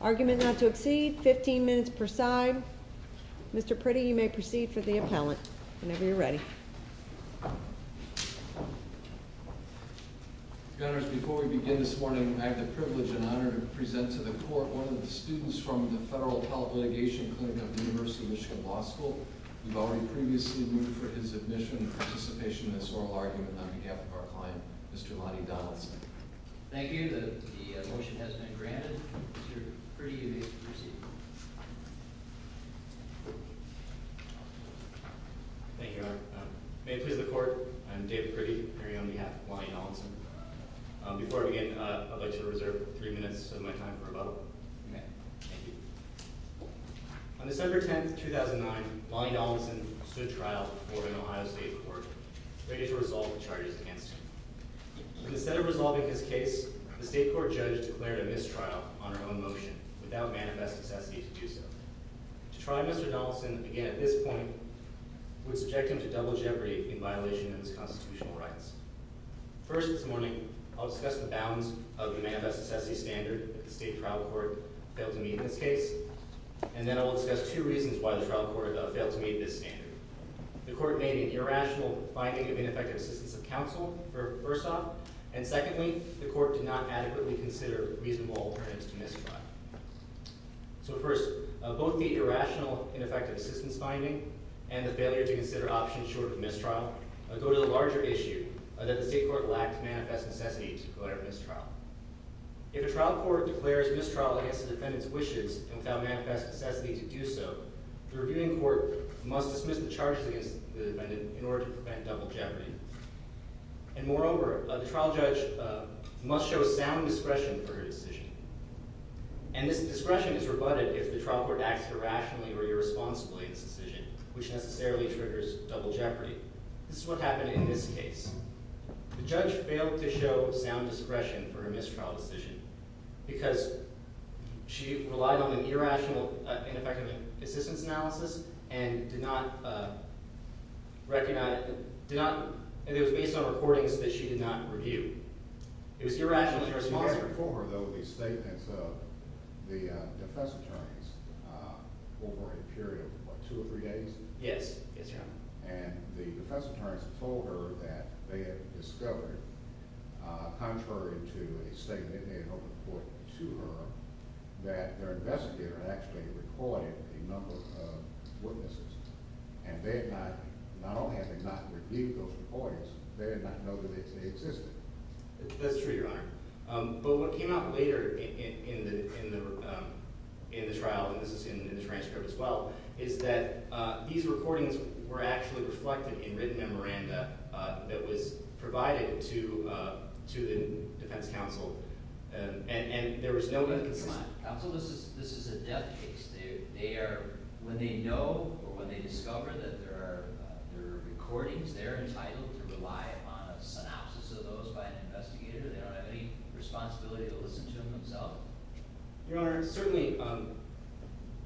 Argument not to exceed, 15 minutes per side. Mr. Priddy, you may proceed for the appellant whenever you're ready. Your Honors, before we begin this morning, I have the privilege and honor to present to the Court one of the students from the Federal Appellate Litigation Clinic of the University of Michigan Law School. We've already previously moved for his admission and participation in this oral argument on behalf of our client, Mr. Lonnie Donaldson. Thank you. The motion has been granted. Mr. Priddy, you may proceed. Thank you, Your Honor. May it please the Court, I am David Priddy, appearing on behalf of Lonnie Donaldson. Before I begin, I'd like to reserve three minutes of my time for rebuttal. On December 10, 2009, Lonnie Donaldson stood trial before the Ohio State Court, ready to resolve the charges against him. Instead of resolving his case, the state court judge declared a mistrial on her own motion, without manifest necessity to do so. To try Mr. Donaldson again at this point would subject him to double jeopardy in violation of his constitutional rights. First this morning, I'll discuss the bounds of the manifest necessity standard that the state trial court failed to meet in this case, and then I'll discuss two reasons why the trial court failed to meet this standard. The court made an irrational finding of ineffective assistance of counsel, first off, and secondly, the court did not adequately consider reasonable alternatives to mistrial. So first, both the irrational, ineffective assistance finding and the failure to consider options short of mistrial go to the larger issue that the state court lacked manifest necessity to go ahead with mistrial. If a trial court declares mistrial against the defendant's wishes and without manifest necessity to do so, the reviewing court must dismiss the charges against the defendant in order to prevent double jeopardy. And moreover, the trial judge must show sound discretion for her decision. And this discretion is rebutted if the trial court acts irrationally or irresponsibly in this decision, which necessarily triggers double jeopardy. This is what happened in this case. The judge failed to show sound discretion for her mistrial decision because she relied on an irrational, ineffective assistance analysis and did not recognize – did not – and it was based on recordings that she did not review. It was irrational and irresponsible. You had before her, though, the statements of the defense attorneys over a period of, what, two or three days? Yes. Yes, Your Honor. And the defense attorneys told her that they had discovered, contrary to a statement they had over the court to her, that their investigator had actually recorded a number of witnesses. And they had not – not only had they not reviewed those recordings, they did not know that they existed. That's true, Your Honor. But what came out later in the trial, and this is in the transcript as well, is that these recordings were actually reflected in written memoranda that was provided to the defense counsel. And there was no – Counsel, this is a death case. They are – when they know or when they discover that there are recordings, they're entitled to rely upon a synopsis of those by an investigator. They don't have any responsibility to listen to them themselves. Your Honor, certainly,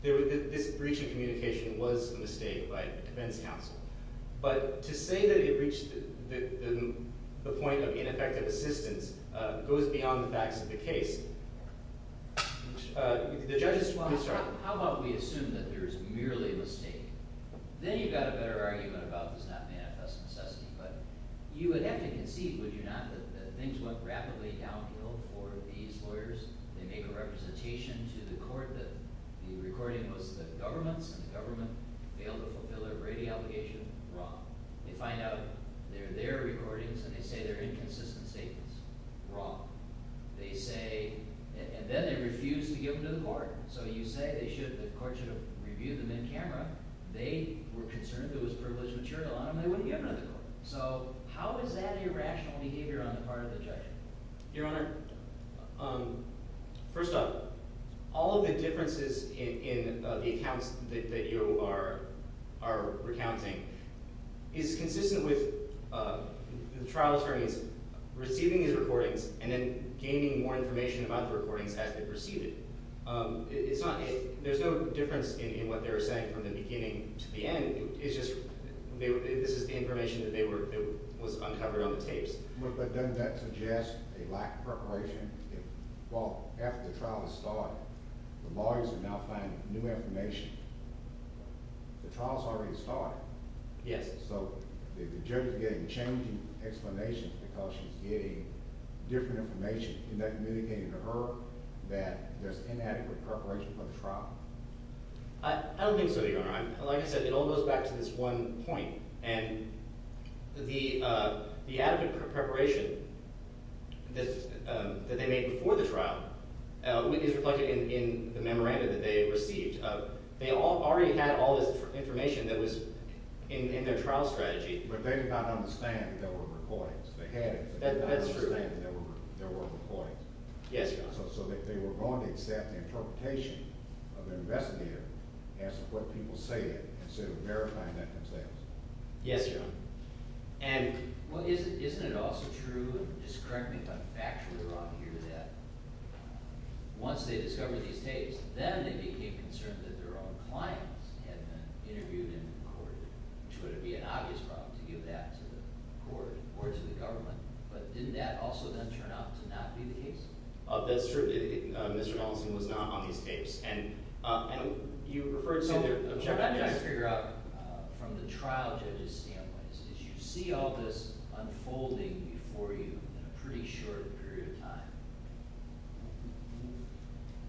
this breach of communication was a mistake by a defense counsel. But to say that it reached the point of ineffective assistance goes beyond the facts of the case. The judges – I'm sorry. How about we assume that there is merely a mistake? Then you've got a better argument about does not manifest necessity. But you would have to concede, would you not, that things went rapidly downhill for these lawyers? They make a representation to the court that the recording was the government's, and the government failed to fulfill a Brady allegation. Wrong. They find out they're their recordings, and they say they're inconsistent statements. Wrong. They say – and then they refuse to give them to the court. So you say they should – the court should have reviewed them in camera. They were concerned there was privileged material on them. They wouldn't give them to the court. So how is that irrational behavior on the part of the judge? Your Honor, first off, all of the differences in the accounts that you are recounting is consistent with the trial attorneys receiving these recordings and then gaining more information about the recordings as they receive it. It's not – there's no difference in what they were saying from the beginning to the end. It's just – this is the information that they were – that was uncovered on the tapes. But doesn't that suggest a lack of preparation? Well, after the trial has started, the lawyers are now finding new information. The trial has already started. Yes. So the judge is getting changing explanations because she's getting different information. Isn't that communicating to her that there's inadequate preparation for the trial? I don't think so, Your Honor. Like I said, it all goes back to this one point. And the adequate preparation that they made before the trial is reflected in the memoranda that they received. They already had all this information that was in their trial strategy. But they did not understand that there were recordings. They had it. That's true. They did not understand that there were recordings. Yes, Your Honor. So they were going to accept the interpretation of an investigator as to what people say instead of verifying that themselves. Yes, Your Honor. And isn't it also true, and just correct me if I'm factually wrong here, that once they discovered these tapes, then they became concerned that their own clients had been interviewed and recorded, which would be an obvious problem to give that to the court or to the government. But didn't that also then turn out to not be the case? That's true. Mr. Donaldson was not on these tapes. And you referred to their objective evidence. So what I'm trying to figure out from the trial judge's standpoint is you see all this unfolding before you in a pretty short period of time.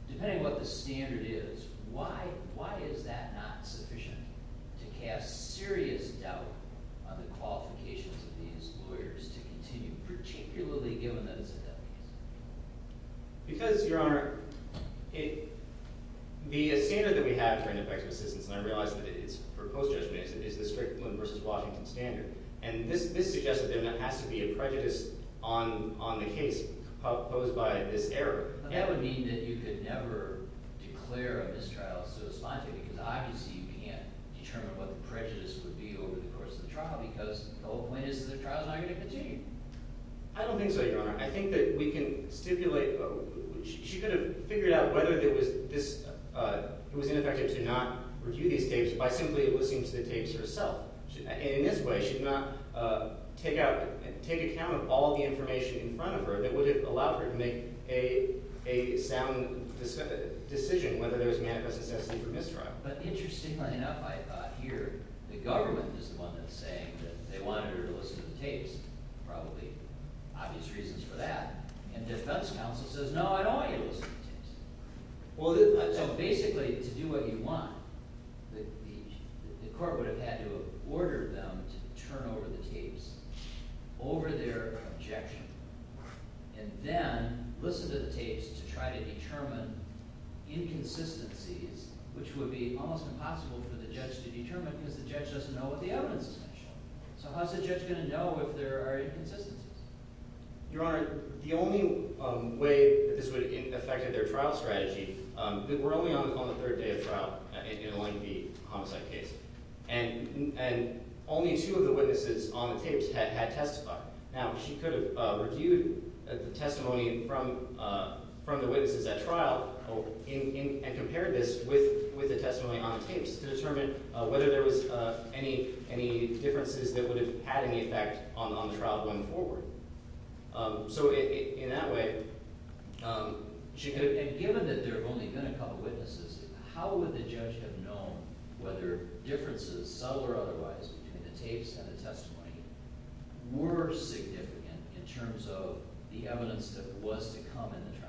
Depending on what the standard is, why is that not sufficient to cast serious doubt on the qualifications of these lawyers to continue, particularly given that it's a death case? Because, Your Honor, the standard that we have for ineffective assistance, and I realize that it's for post-judgment, is the Strickland v. Washington standard. And this suggests that there has to be a prejudice on the case posed by this error. That would mean that you could never declare a mistrial, so to speak, because obviously you can't determine what the prejudice would be over the course of the trial because the whole point is that the trial is not going to continue. I don't think so, Your Honor. I think that we can stipulate – she could have figured out whether it was ineffective to not review these tapes by simply listening to the tapes herself. In this way, she could not take account of all the information in front of her that would have allowed her to make a sound decision whether there was manifest necessity for mistrial. But interestingly enough, I hear the government is the one that's saying that they wanted her to listen to the tapes. Probably obvious reasons for that. And defense counsel says, no, I don't want you to listen to the tapes. So basically, to do what you want, the court would have had to have ordered them to turn over the tapes over their objection and then listen to the tapes to try to determine inconsistencies, which would be almost impossible for the judge to determine because the judge doesn't know what the evidence is going to show. So how is the judge going to know if there are inconsistencies? Your Honor, the only way that this would have affected their trial strategy – we're only on the third day of trial in the homicide case. And only two of the witnesses on the tapes had testified. Now, she could have reviewed the testimony from the witnesses at trial and compared this with the testimony on the tapes to determine whether there was any differences that would have had any effect on the trial going forward. So in that way – and given that there have only been a couple of witnesses, how would the judge have known whether differences, subtle or otherwise, between the tapes and the testimony were significant in terms of the evidence that was to come in the trial?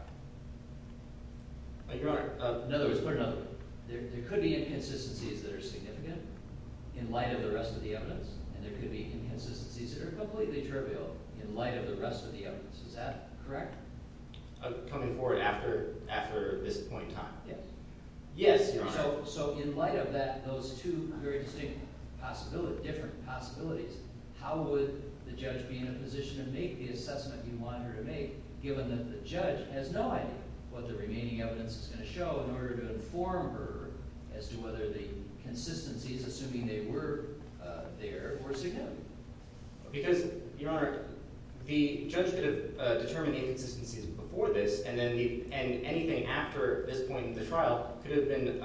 Your Honor, in other words, there could be inconsistencies that are significant in light of the rest of the evidence, and there could be inconsistencies that are completely trivial in light of the rest of the evidence. Is that correct? Coming forward after this point in time? Yes. So in light of that, those two very distinct possibilities – different possibilities – how would the judge be in a position to make the assessment you want her to make given that the judge has no idea what the remaining evidence is going to show in order to inform her as to whether the consistency is assuming they were there or significant? Because, Your Honor, the judge could have determined the inconsistencies before this, and then the – and anything after this point in the trial could have been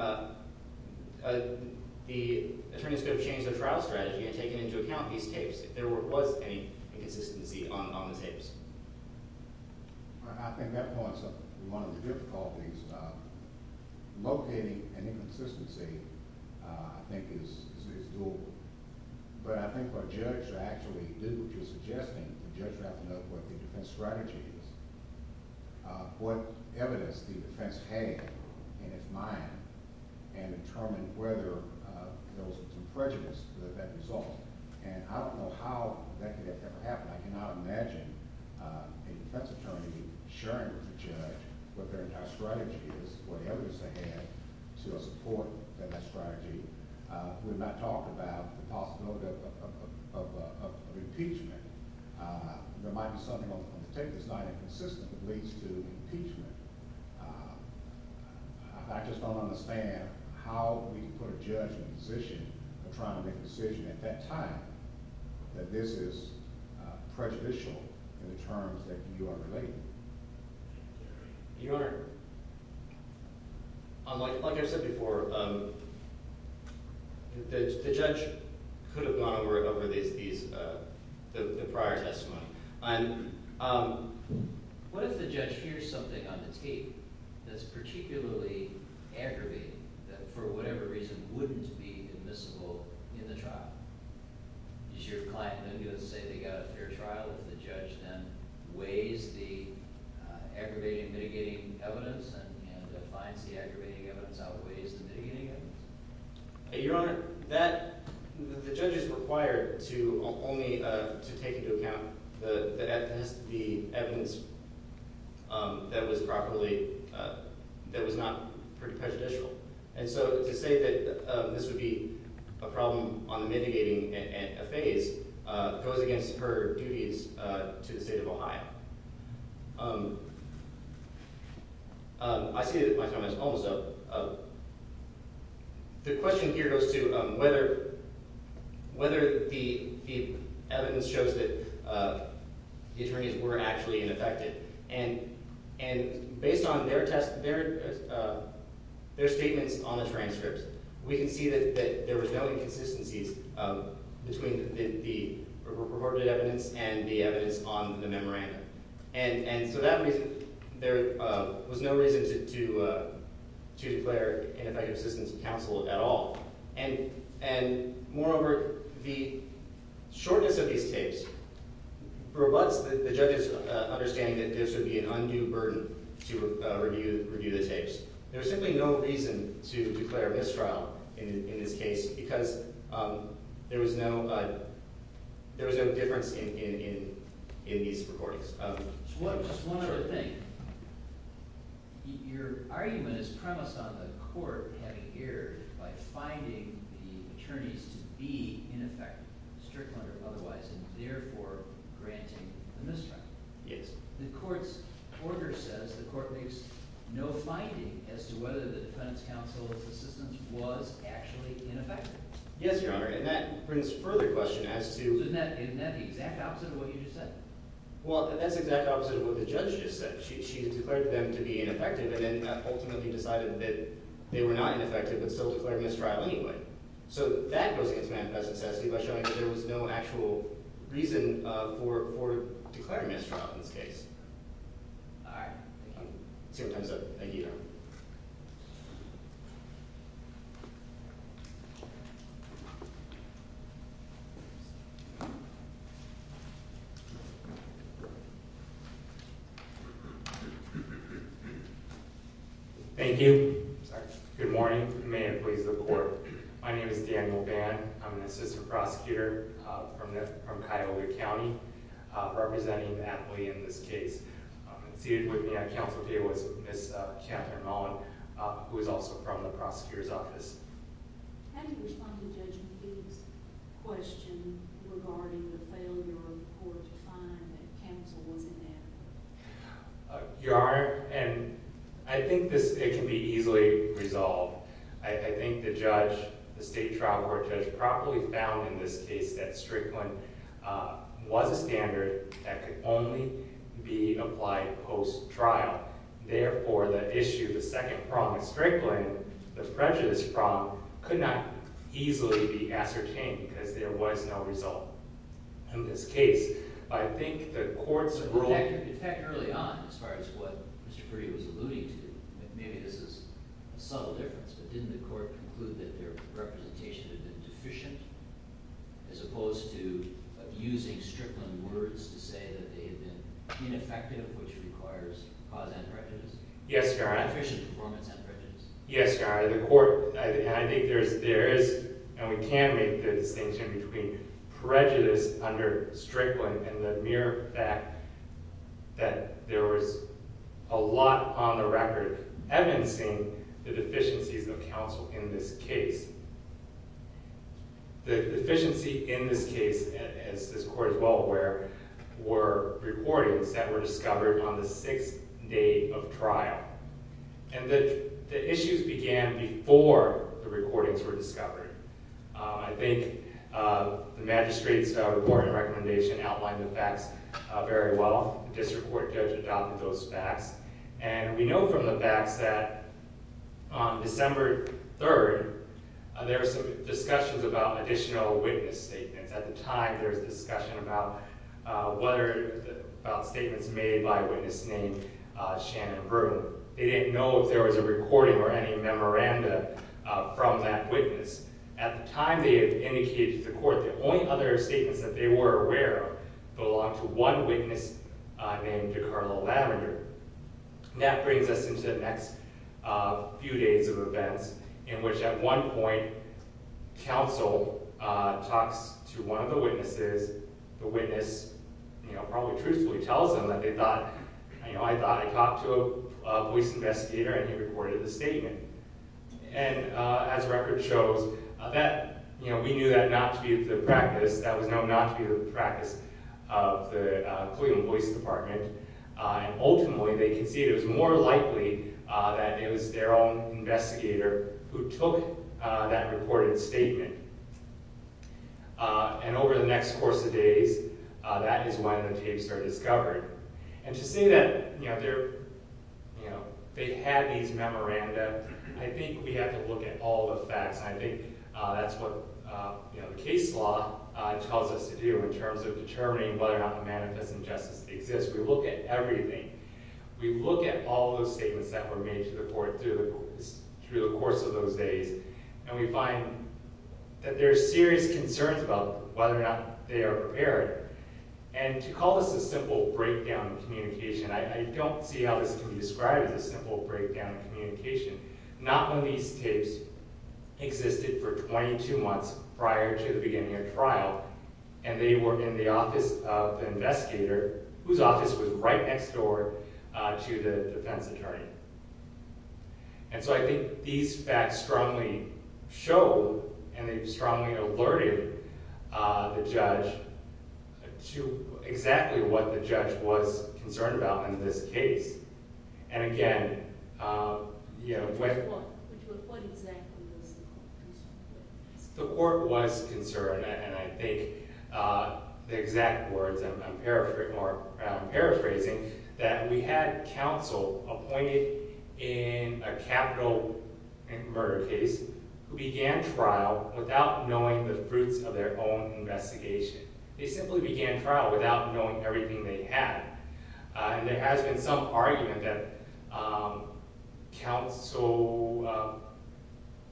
– the attorneys could have changed their trial strategy and taken into account these tapes if there was any inconsistency on the tapes. I think that points to one of the difficulties. Locating an inconsistency, I think, is doable. But I think what a judge should actually do, which is suggesting the judge should have to know what the defense strategy is, what evidence the defense had in its mind, and determine whether there was some prejudice to that result. And I don't know how that could have ever happened. I cannot imagine a defense attorney sharing with the judge what their entire strategy is, what evidence they had to support that strategy. We've not talked about the possibility of impeachment. There might be something on the tape that's not inconsistent that leads to impeachment. I just don't understand how we can put a judge in a position of trying to make a decision at that time that this is prejudicial in the terms that you are relating. Your Honor, like I've said before, the judge could have gone over these – the prior testimony. What if the judge hears something on the tape that's particularly aggravating that for whatever reason wouldn't be admissible in the trial? Does your client then go and say they got a fair trial if the judge then weighs the aggravating, mitigating evidence and finds the aggravating evidence outweighs the mitigating evidence? Your Honor, that – the judge is required to only take into account the evidence that was properly – that was not prejudicial. And so to say that this would be a problem on the mitigating phase goes against her duties to the state of Ohio. I see that my time is almost up. The question here goes to whether the evidence shows that the attorneys were actually ineffective. And based on their test – their statements on the transcripts, we can see that there was no inconsistencies between the reported evidence and the evidence on the memorandum. And so that reason – there was no reason to declare ineffective assistance to counsel at all. And moreover, the shortness of these tapes perverts the judge's understanding that this would be an undue burden to review the tapes. There was simply no reason to declare mistrial in this case because there was no difference in these recordings. So just one other thing. Your argument is premised on the court having erred by finding the attorneys to be ineffective, strictly or otherwise, and therefore granting the mistrial. Yes. The court's order says the court makes no finding as to whether the defendant's counsel's assistance was actually ineffective. Yes, Your Honor. And that brings further question as to – Isn't that the exact opposite of what you just said? Well, that's the exact opposite of what the judge just said. She declared them to be ineffective and then ultimately decided that they were not ineffective but still declared mistrial anyway. So that goes against manifest necessity by showing that there was no actual reason for declaring mistrial in this case. All right. Thank you. Let's see what time's up. Thank you, Your Honor. Thank you. Good morning. May it please the court. My name is Daniel Band. I'm an assistant prosecutor from Cuyahoga County representing the athlete in this case. Seated with me at counsel table is Ms. Catherine Mullen who is also from the prosecutor's office. How do you respond to Judge McGee's question regarding the failure of the court to find that counsel was ineffective? Your Honor, and I think this – it can be easily resolved. I think the judge, the state trial court judge, properly found in this case that Strickland was a standard that could only be applied post-trial. Therefore, the issue, the second prong of Strickland, the prejudice prong, could not easily be ascertained because there was no result in this case. But I think the court's rule – In fact, early on, as far as what Mr. Puri was alluding to, maybe this is a subtle difference, but didn't the court conclude that their representation had been deficient as opposed to using Strickland words to say that they had been ineffective, which requires cause and prejudice? Yes, Your Honor. Deficient performance and prejudice. Yes, Your Honor. The court – and I think there is, and we can make the distinction between prejudice under Strickland and the mere fact that there was a lot on the record evidencing the deficiencies of counsel in this case. The deficiency in this case, as this court is well aware, were recordings that were discovered on the sixth day of trial. And the issues began before the recordings were discovered. I think the magistrate's reporting recommendation outlined the facts very well. And we know from the facts that on December 3rd, there were some discussions about additional witness statements. At the time, there was a discussion about statements made by a witness named Shannon Brue. They didn't know if there was a recording or any memoranda from that witness. At the time they indicated to the court, the only other statements that they were aware of belonged to one witness named DeCarlo Lavender. That brings us into the next few days of events, in which at one point, counsel talks to one of the witnesses. The witness probably truthfully tells them that they thought, you know, I thought I talked to a voice investigator and he recorded the statement. And as record shows, we knew that not to be the practice. That was known not to be the practice of the Collegian Voice Department. Ultimately, they conceded it was more likely that it was their own investigator who took that recorded statement. And over the next course of days, that is when the tapes are discovered. And to say that they had these memoranda, I think we have to look at all the facts. I think that's what case law tells us to do in terms of determining whether or not the manifest injustice exists. We look at everything. We look at all those statements that were made to the court through the course of those days. And we find that there are serious concerns about whether or not they are prepared. And to call this a simple breakdown of communication, I don't see how this can be described as a simple breakdown of communication. Not when these tapes existed for 22 months prior to the beginning of trial, and they were in the office of the investigator, whose office was right next door to the defense attorney. And so I think these facts strongly show, and they've strongly alerted the judge to exactly what the judge was concerned about in this case. And again, you know... What exactly was the court concerned about? The court was concerned. And I think the exact words I'm paraphrasing are that we had counsel appointed in a capital murder case who began trial without knowing the fruits of their own investigation. They simply began trial without knowing everything they had. And there has been some argument that counsel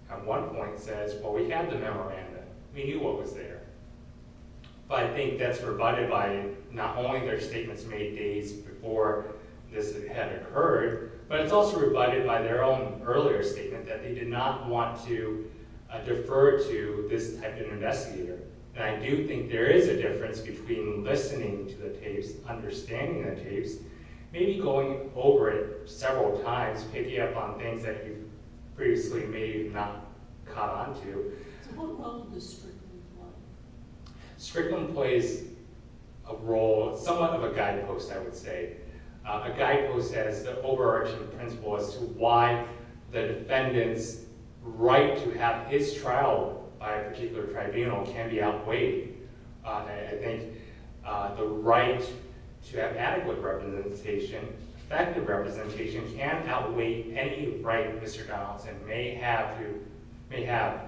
at one point says, Well, we have the memoranda. We knew what was there. But I think that's rebutted by not only their statements made days before this had occurred, but it's also rebutted by their own earlier statement that they did not want to defer to this type of investigator. And I do think there is a difference between listening to the tapes, understanding the tapes, maybe going over it several times, picking up on things that you've previously maybe not caught on to. So what role does Strickland play? Strickland plays a role, somewhat of a guidepost, I would say. A guidepost as the overarching principle as to why the defendant's right to have his trial by a particular tribunal can be outweighed. I think the right to have adequate representation, effective representation, can outweigh any right Mr. Donaldson may have to have.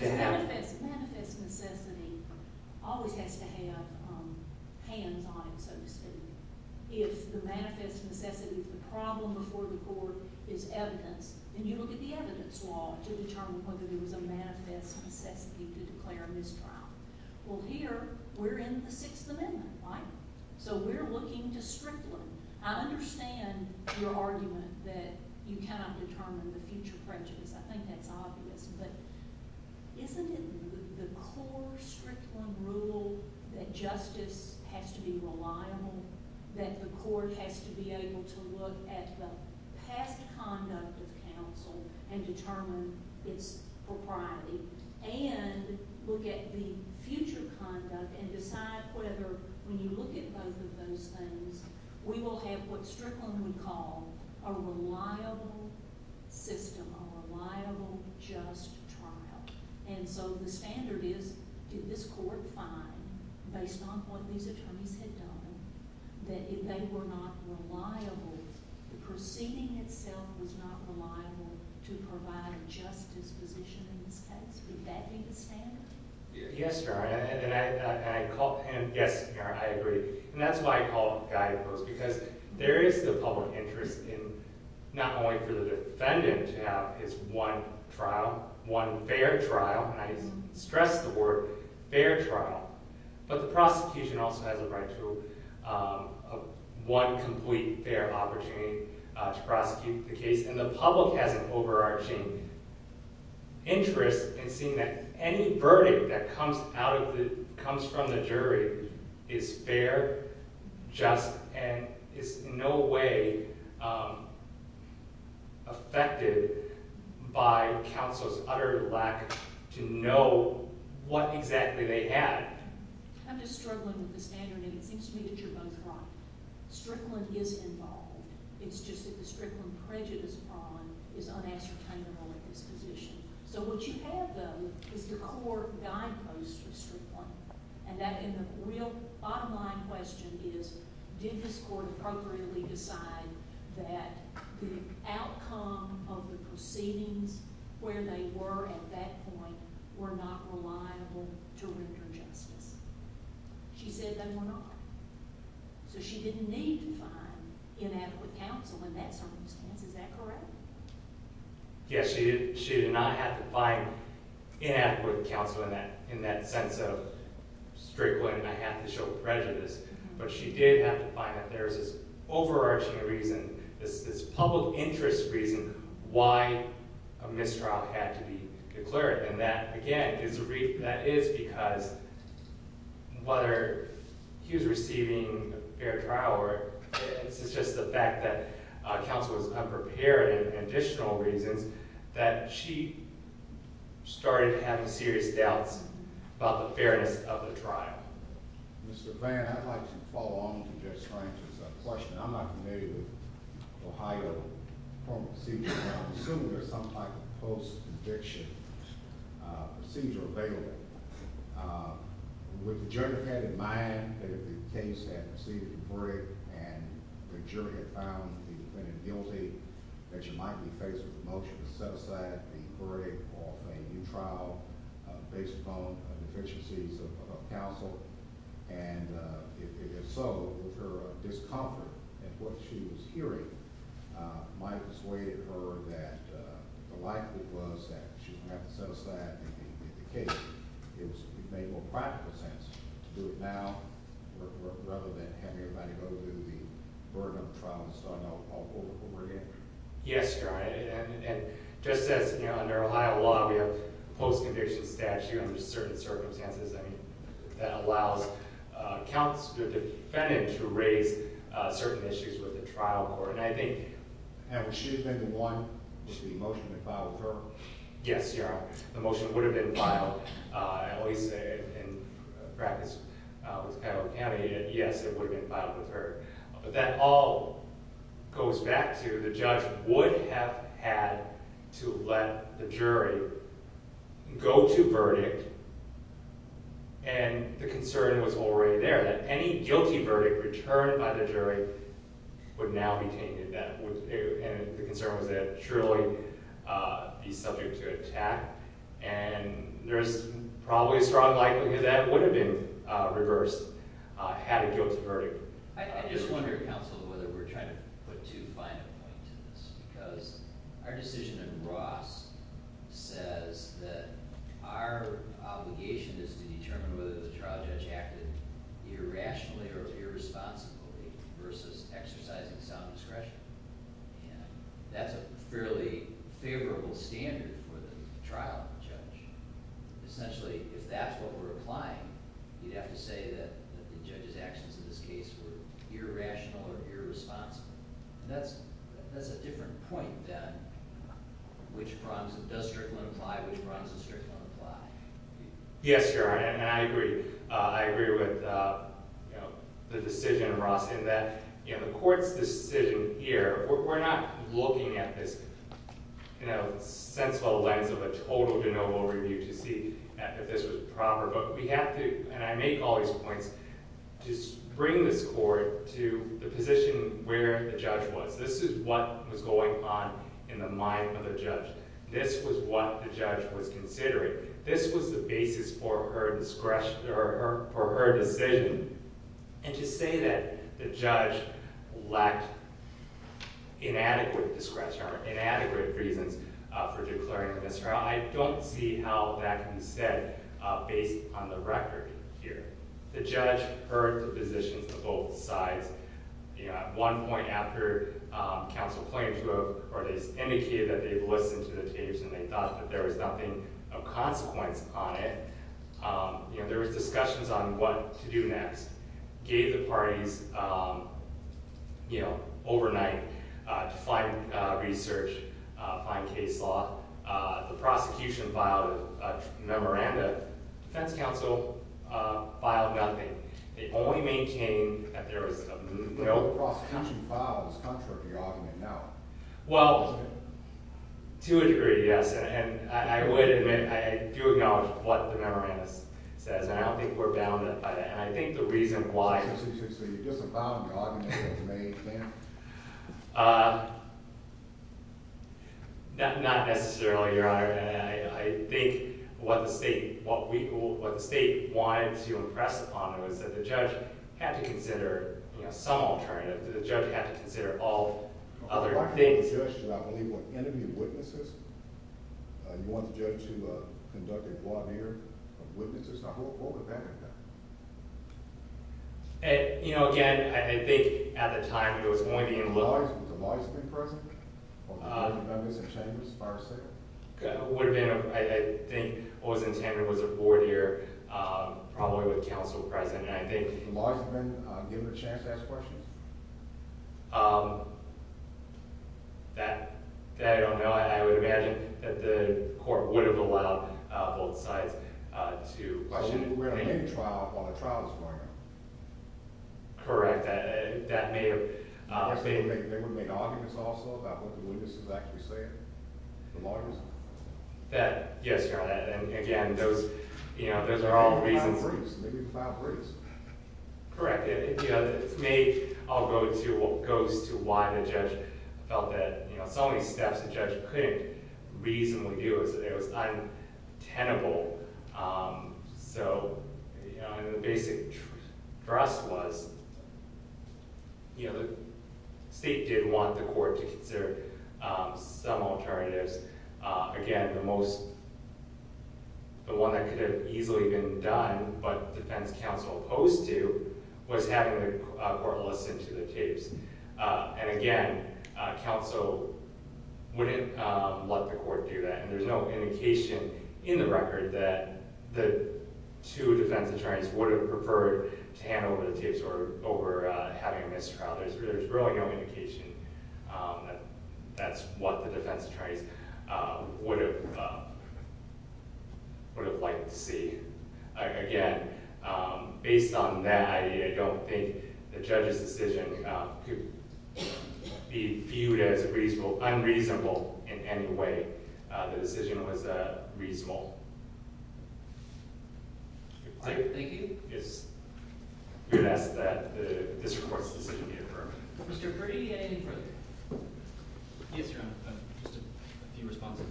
Manifest necessity always has to have hands on, so to speak. If the manifest necessity of the problem before the court is evidence, then you look at the evidence law to determine whether there was a manifest necessity to declare a mistrial. Well here, we're in the Sixth Amendment, right? So we're looking to Strickland. I understand your argument that you cannot determine the future prejudice. I think that's obvious, but isn't it the core Strickland rule that justice has to be reliable, that the court has to be able to look at the past conduct of counsel and determine its propriety, and look at the future conduct and decide whether, when you look at both of those things, we will have what Strickland would call a reliable system, a reliable, just trial. And so the standard is, did this court find, based on what these attorneys had done, that if they were not reliable, the proceeding itself was not reliable to provide a justice position in this case? Would that be the standard? Yes, and I agree. And that's why I call it a guidepost, because there is the public interest in, not only for the defendant to have his one trial, one fair trial, and I stress the word fair trial, but the prosecution also has a right to one complete fair opportunity to prosecute the case. And the public has an overarching interest in seeing that any verdict that comes from the jury is fair, just, and is in no way affected by counsel's utter lack to know what exactly they had. I'm just struggling with the standard, and it seems to me that you're both wrong. Strickland is involved. It's just that the Strickland prejudice bond is unassertainable at this position. So what you have, though, is the core guidepost for Strickland, and the real bottom-line question is, did this court appropriately decide that the outcome of the proceedings, where they were at that point, were not reliable to render justice? She said they were not. So she didn't need to find inadequate counsel in that circumstance, is that correct? Yes, she did not have to find inadequate counsel in that sense of, Strickland, I have to show prejudice. But she did have to find that there is this overarching reason, this public interest reason, why a mistrial had to be declared. And that, again, that is because whether he was receiving a fair trial, or it's just the fact that counsel was unprepared in additional reasons, that she started having serious doubts about the fairness of the trial. Mr. Vann, I'd like to follow on from Judge Strang's question. I'm not familiar with Ohio court proceedings, and I'm assuming there's some type of post-conviction procedure available. Would the jury have had in mind that if the case had received a verdict and the jury had found the defendant guilty, that she might be faced with a motion to set aside the verdict off a new trial based upon deficiencies of counsel? And if so, with her discomfort at what she was hearing, might have persuaded her that the likelihood was that she wouldn't have to set aside the case. It would have made more practical sense to do it now, rather than having everybody go through the burden of trial and starting all over again. Yes, Your Honor. And just as under Ohio law we have a post-conviction statute under certain circumstances, I mean, that allows counsel, the defendant, to raise certain issues with the trial court. And I think... And would she have been the one? Would the motion have been filed with her? Yes, Your Honor. The motion would have been filed. I always say in practice, it was kind of a caveat, yes, it would have been filed with her. But that all goes back to the judge would have had to let the jury go to verdict, and the concern was already there, that any guilty verdict returned by the jury would now be tainted. And the concern was that it would truly be subject to attack. And there's probably a strong likelihood that it would have been reversed, had it been a guilty verdict. I just wonder, counsel, whether we're trying to put too fine a point to this, because our decision in Ross says that our obligation is to determine whether the trial judge acted irrationally or irresponsibly versus exercising sound discretion. And that's a fairly favorable standard for the trial judge. Essentially, if that's what we're applying, you'd have to say that the judge's actions in this case were irrational or irresponsible. And that's a different point than which problems it does strictly apply, which problems it strictly won't apply. Yes, Your Honor, and I agree. I agree with the decision in Ross in that the court's decision here, we're not looking at this sensible lens of a total de novo review to see if this was proper, but we have to, and I make all these points, just bring this court to the position where the judge was. This is what was going on in the mind of the judge. This was what the judge was considering. This was the basis for her decision. And to say that the judge lacked inadequate discretion or inadequate reasons for declaring a misdemeanor, I don't see how that can be said based on the record here. The judge heard the positions of both sides. At one point after counsel claimed to have indicated that they listened to the tapes and they thought that there was nothing of consequence on it, there was discussions on what to do next. Gave the parties overnight to find research, find case law. The prosecution filed a memoranda. Defense counsel filed nothing. They only maintained that there was a movement. The prosecution filed is contrary to your argument now. Well, to a degree, yes. And I would admit I do acknowledge what the memorandum says, and I don't think we're bound by that. And I think the reason why— So you disavow the argument that was made then? Not necessarily, Your Honor. I think what the state wanted to impress upon her was that the judge had to consider some alternative, that the judge had to consider all other things. Well, if I can make a suggestion, I believe when interviewing witnesses, you want the judge to conduct a voir dire of witnesses. Now, what would that have been? You know, again, I think at the time there was only the— Would the lawyers have been present? Or the board of members and chambers? I think what was intended was a voir dire, probably with counsel present, and I think— Would the lawyers have been given a chance to ask questions? That I don't know. I would imagine that the court would have allowed both sides to— But I should be aware of any trial while the trial is going on. Correct. That may have— They would have made arguments also about what the witnesses actually said, the lawyers? Yes, Your Honor. And, again, those are all reasons— Maybe five reasons. Correct. It may— I'll go to what goes to why the judge felt that so many steps the judge couldn't reasonably do. It was untenable. So, you know, and the basic thrust was, you know, the state did want the court to consider some alternatives. Again, the most— The one that could have easily been done but defense counsel opposed to was having the court listen to the tapes. And, again, counsel wouldn't let the court do that, and there's no indication in the record that the two defense attorneys would have preferred to hand over the tapes or over having a missed trial. There's really no indication that that's what the defense attorneys— would have liked to see. Again, based on that, I don't think the judge's decision could be viewed as unreasonable in any way. The decision was reasonable. Thank you. Yes. I'm going to ask that the district court's decision be affirmed. Mr. Brady, anything further? Yes, Your Honor. Just a few responses.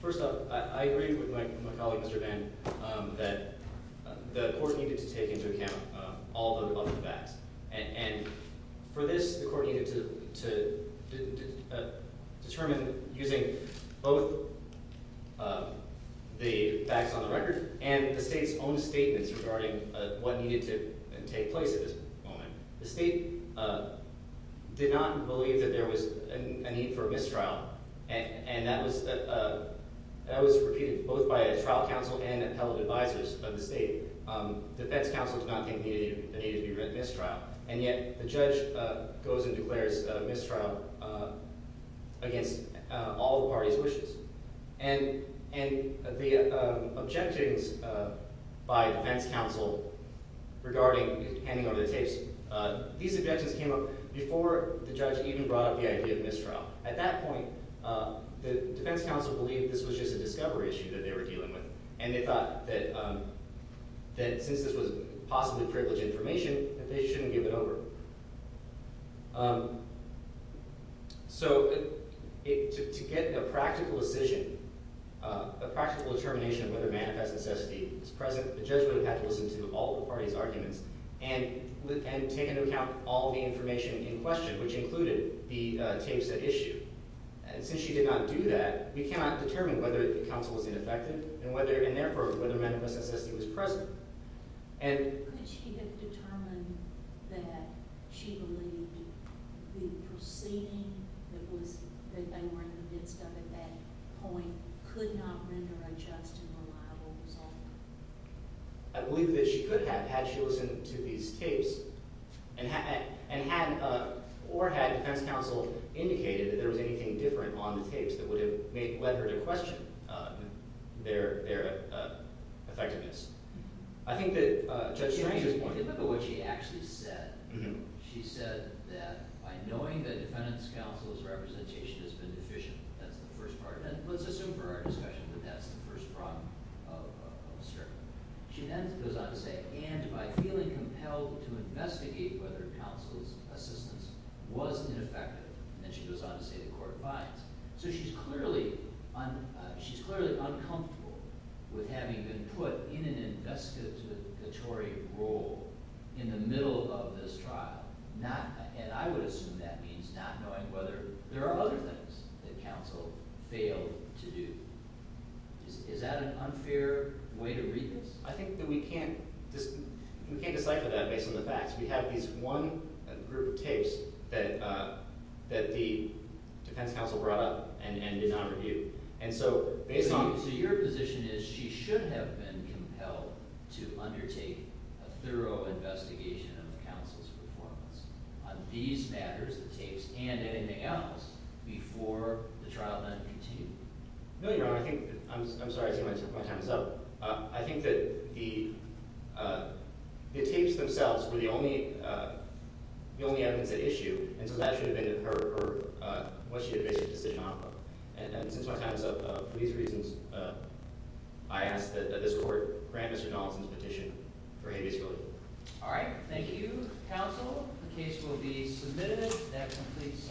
First up, I agreed with my colleague, Mr. Vann, that the court needed to take into account all of the facts. And for this, the court needed to determine using both the facts on the record and the state's own statements regarding what needed to take place at this moment. The state did not believe that there was a need for a missed trial, and that was repeated both by trial counsel and appellate advisors of the state. Defense counsel did not think there needed to be a missed trial, and yet the judge goes and declares a missed trial against all the party's wishes. And the objectings by defense counsel regarding handing over the tapes, these objections came up before the judge even brought up the idea of missed trial. At that point, the defense counsel believed this was just a discovery issue that they were dealing with, and they thought that since this was possibly privileged information, that they shouldn't give it over. So to get a practical decision, a practical determination of whether manifest necessity is present, the judge would have had to listen to all the party's arguments and take into account all the information in question, which included the tapes at issue. And since she did not do that, we cannot determine whether the counsel was ineffective and therefore whether manifest necessity was present. Could she have determined that she believed the proceeding that they were in the midst of at that point could not render a just and reliable result? I believe that she could have had she listened to these tapes or had defense counsel indicated that there was anything different on the tapes that would have led her to question their effectiveness. I think that Judge Strange's point— If you think about what she actually said, she said that by knowing that defendant's counsel's representation has been deficient, that's the first part. And let's assume for our discussion that that's the first problem of the statement. She then goes on to say, and by feeling compelled to investigate whether counsel's assistance was ineffective. And she goes on to say the court finds. So she's clearly uncomfortable with having been put in an investigatory role in the middle of this trial, and I would assume that means not knowing whether there are other things that counsel failed to do. Is that an unfair way to read this? I think that we can't decipher that based on the facts. We have this one group of tapes that the defense counsel brought up and did not review. And so based on— So your position is she should have been compelled to undertake a thorough investigation of counsel's performance on these matters, the tapes, and anything else, before the trial then continued. No, Your Honor. I think—I'm sorry. I think my time is up. I think that the tapes themselves were the only evidence at issue, and so that should have been her—what she had basically said on her part. And since my time is up, for these reasons, I ask that this court grant Mr. Donaldson's petition for habeas code. All right. Thank you, counsel. The case will be submitted. That completes—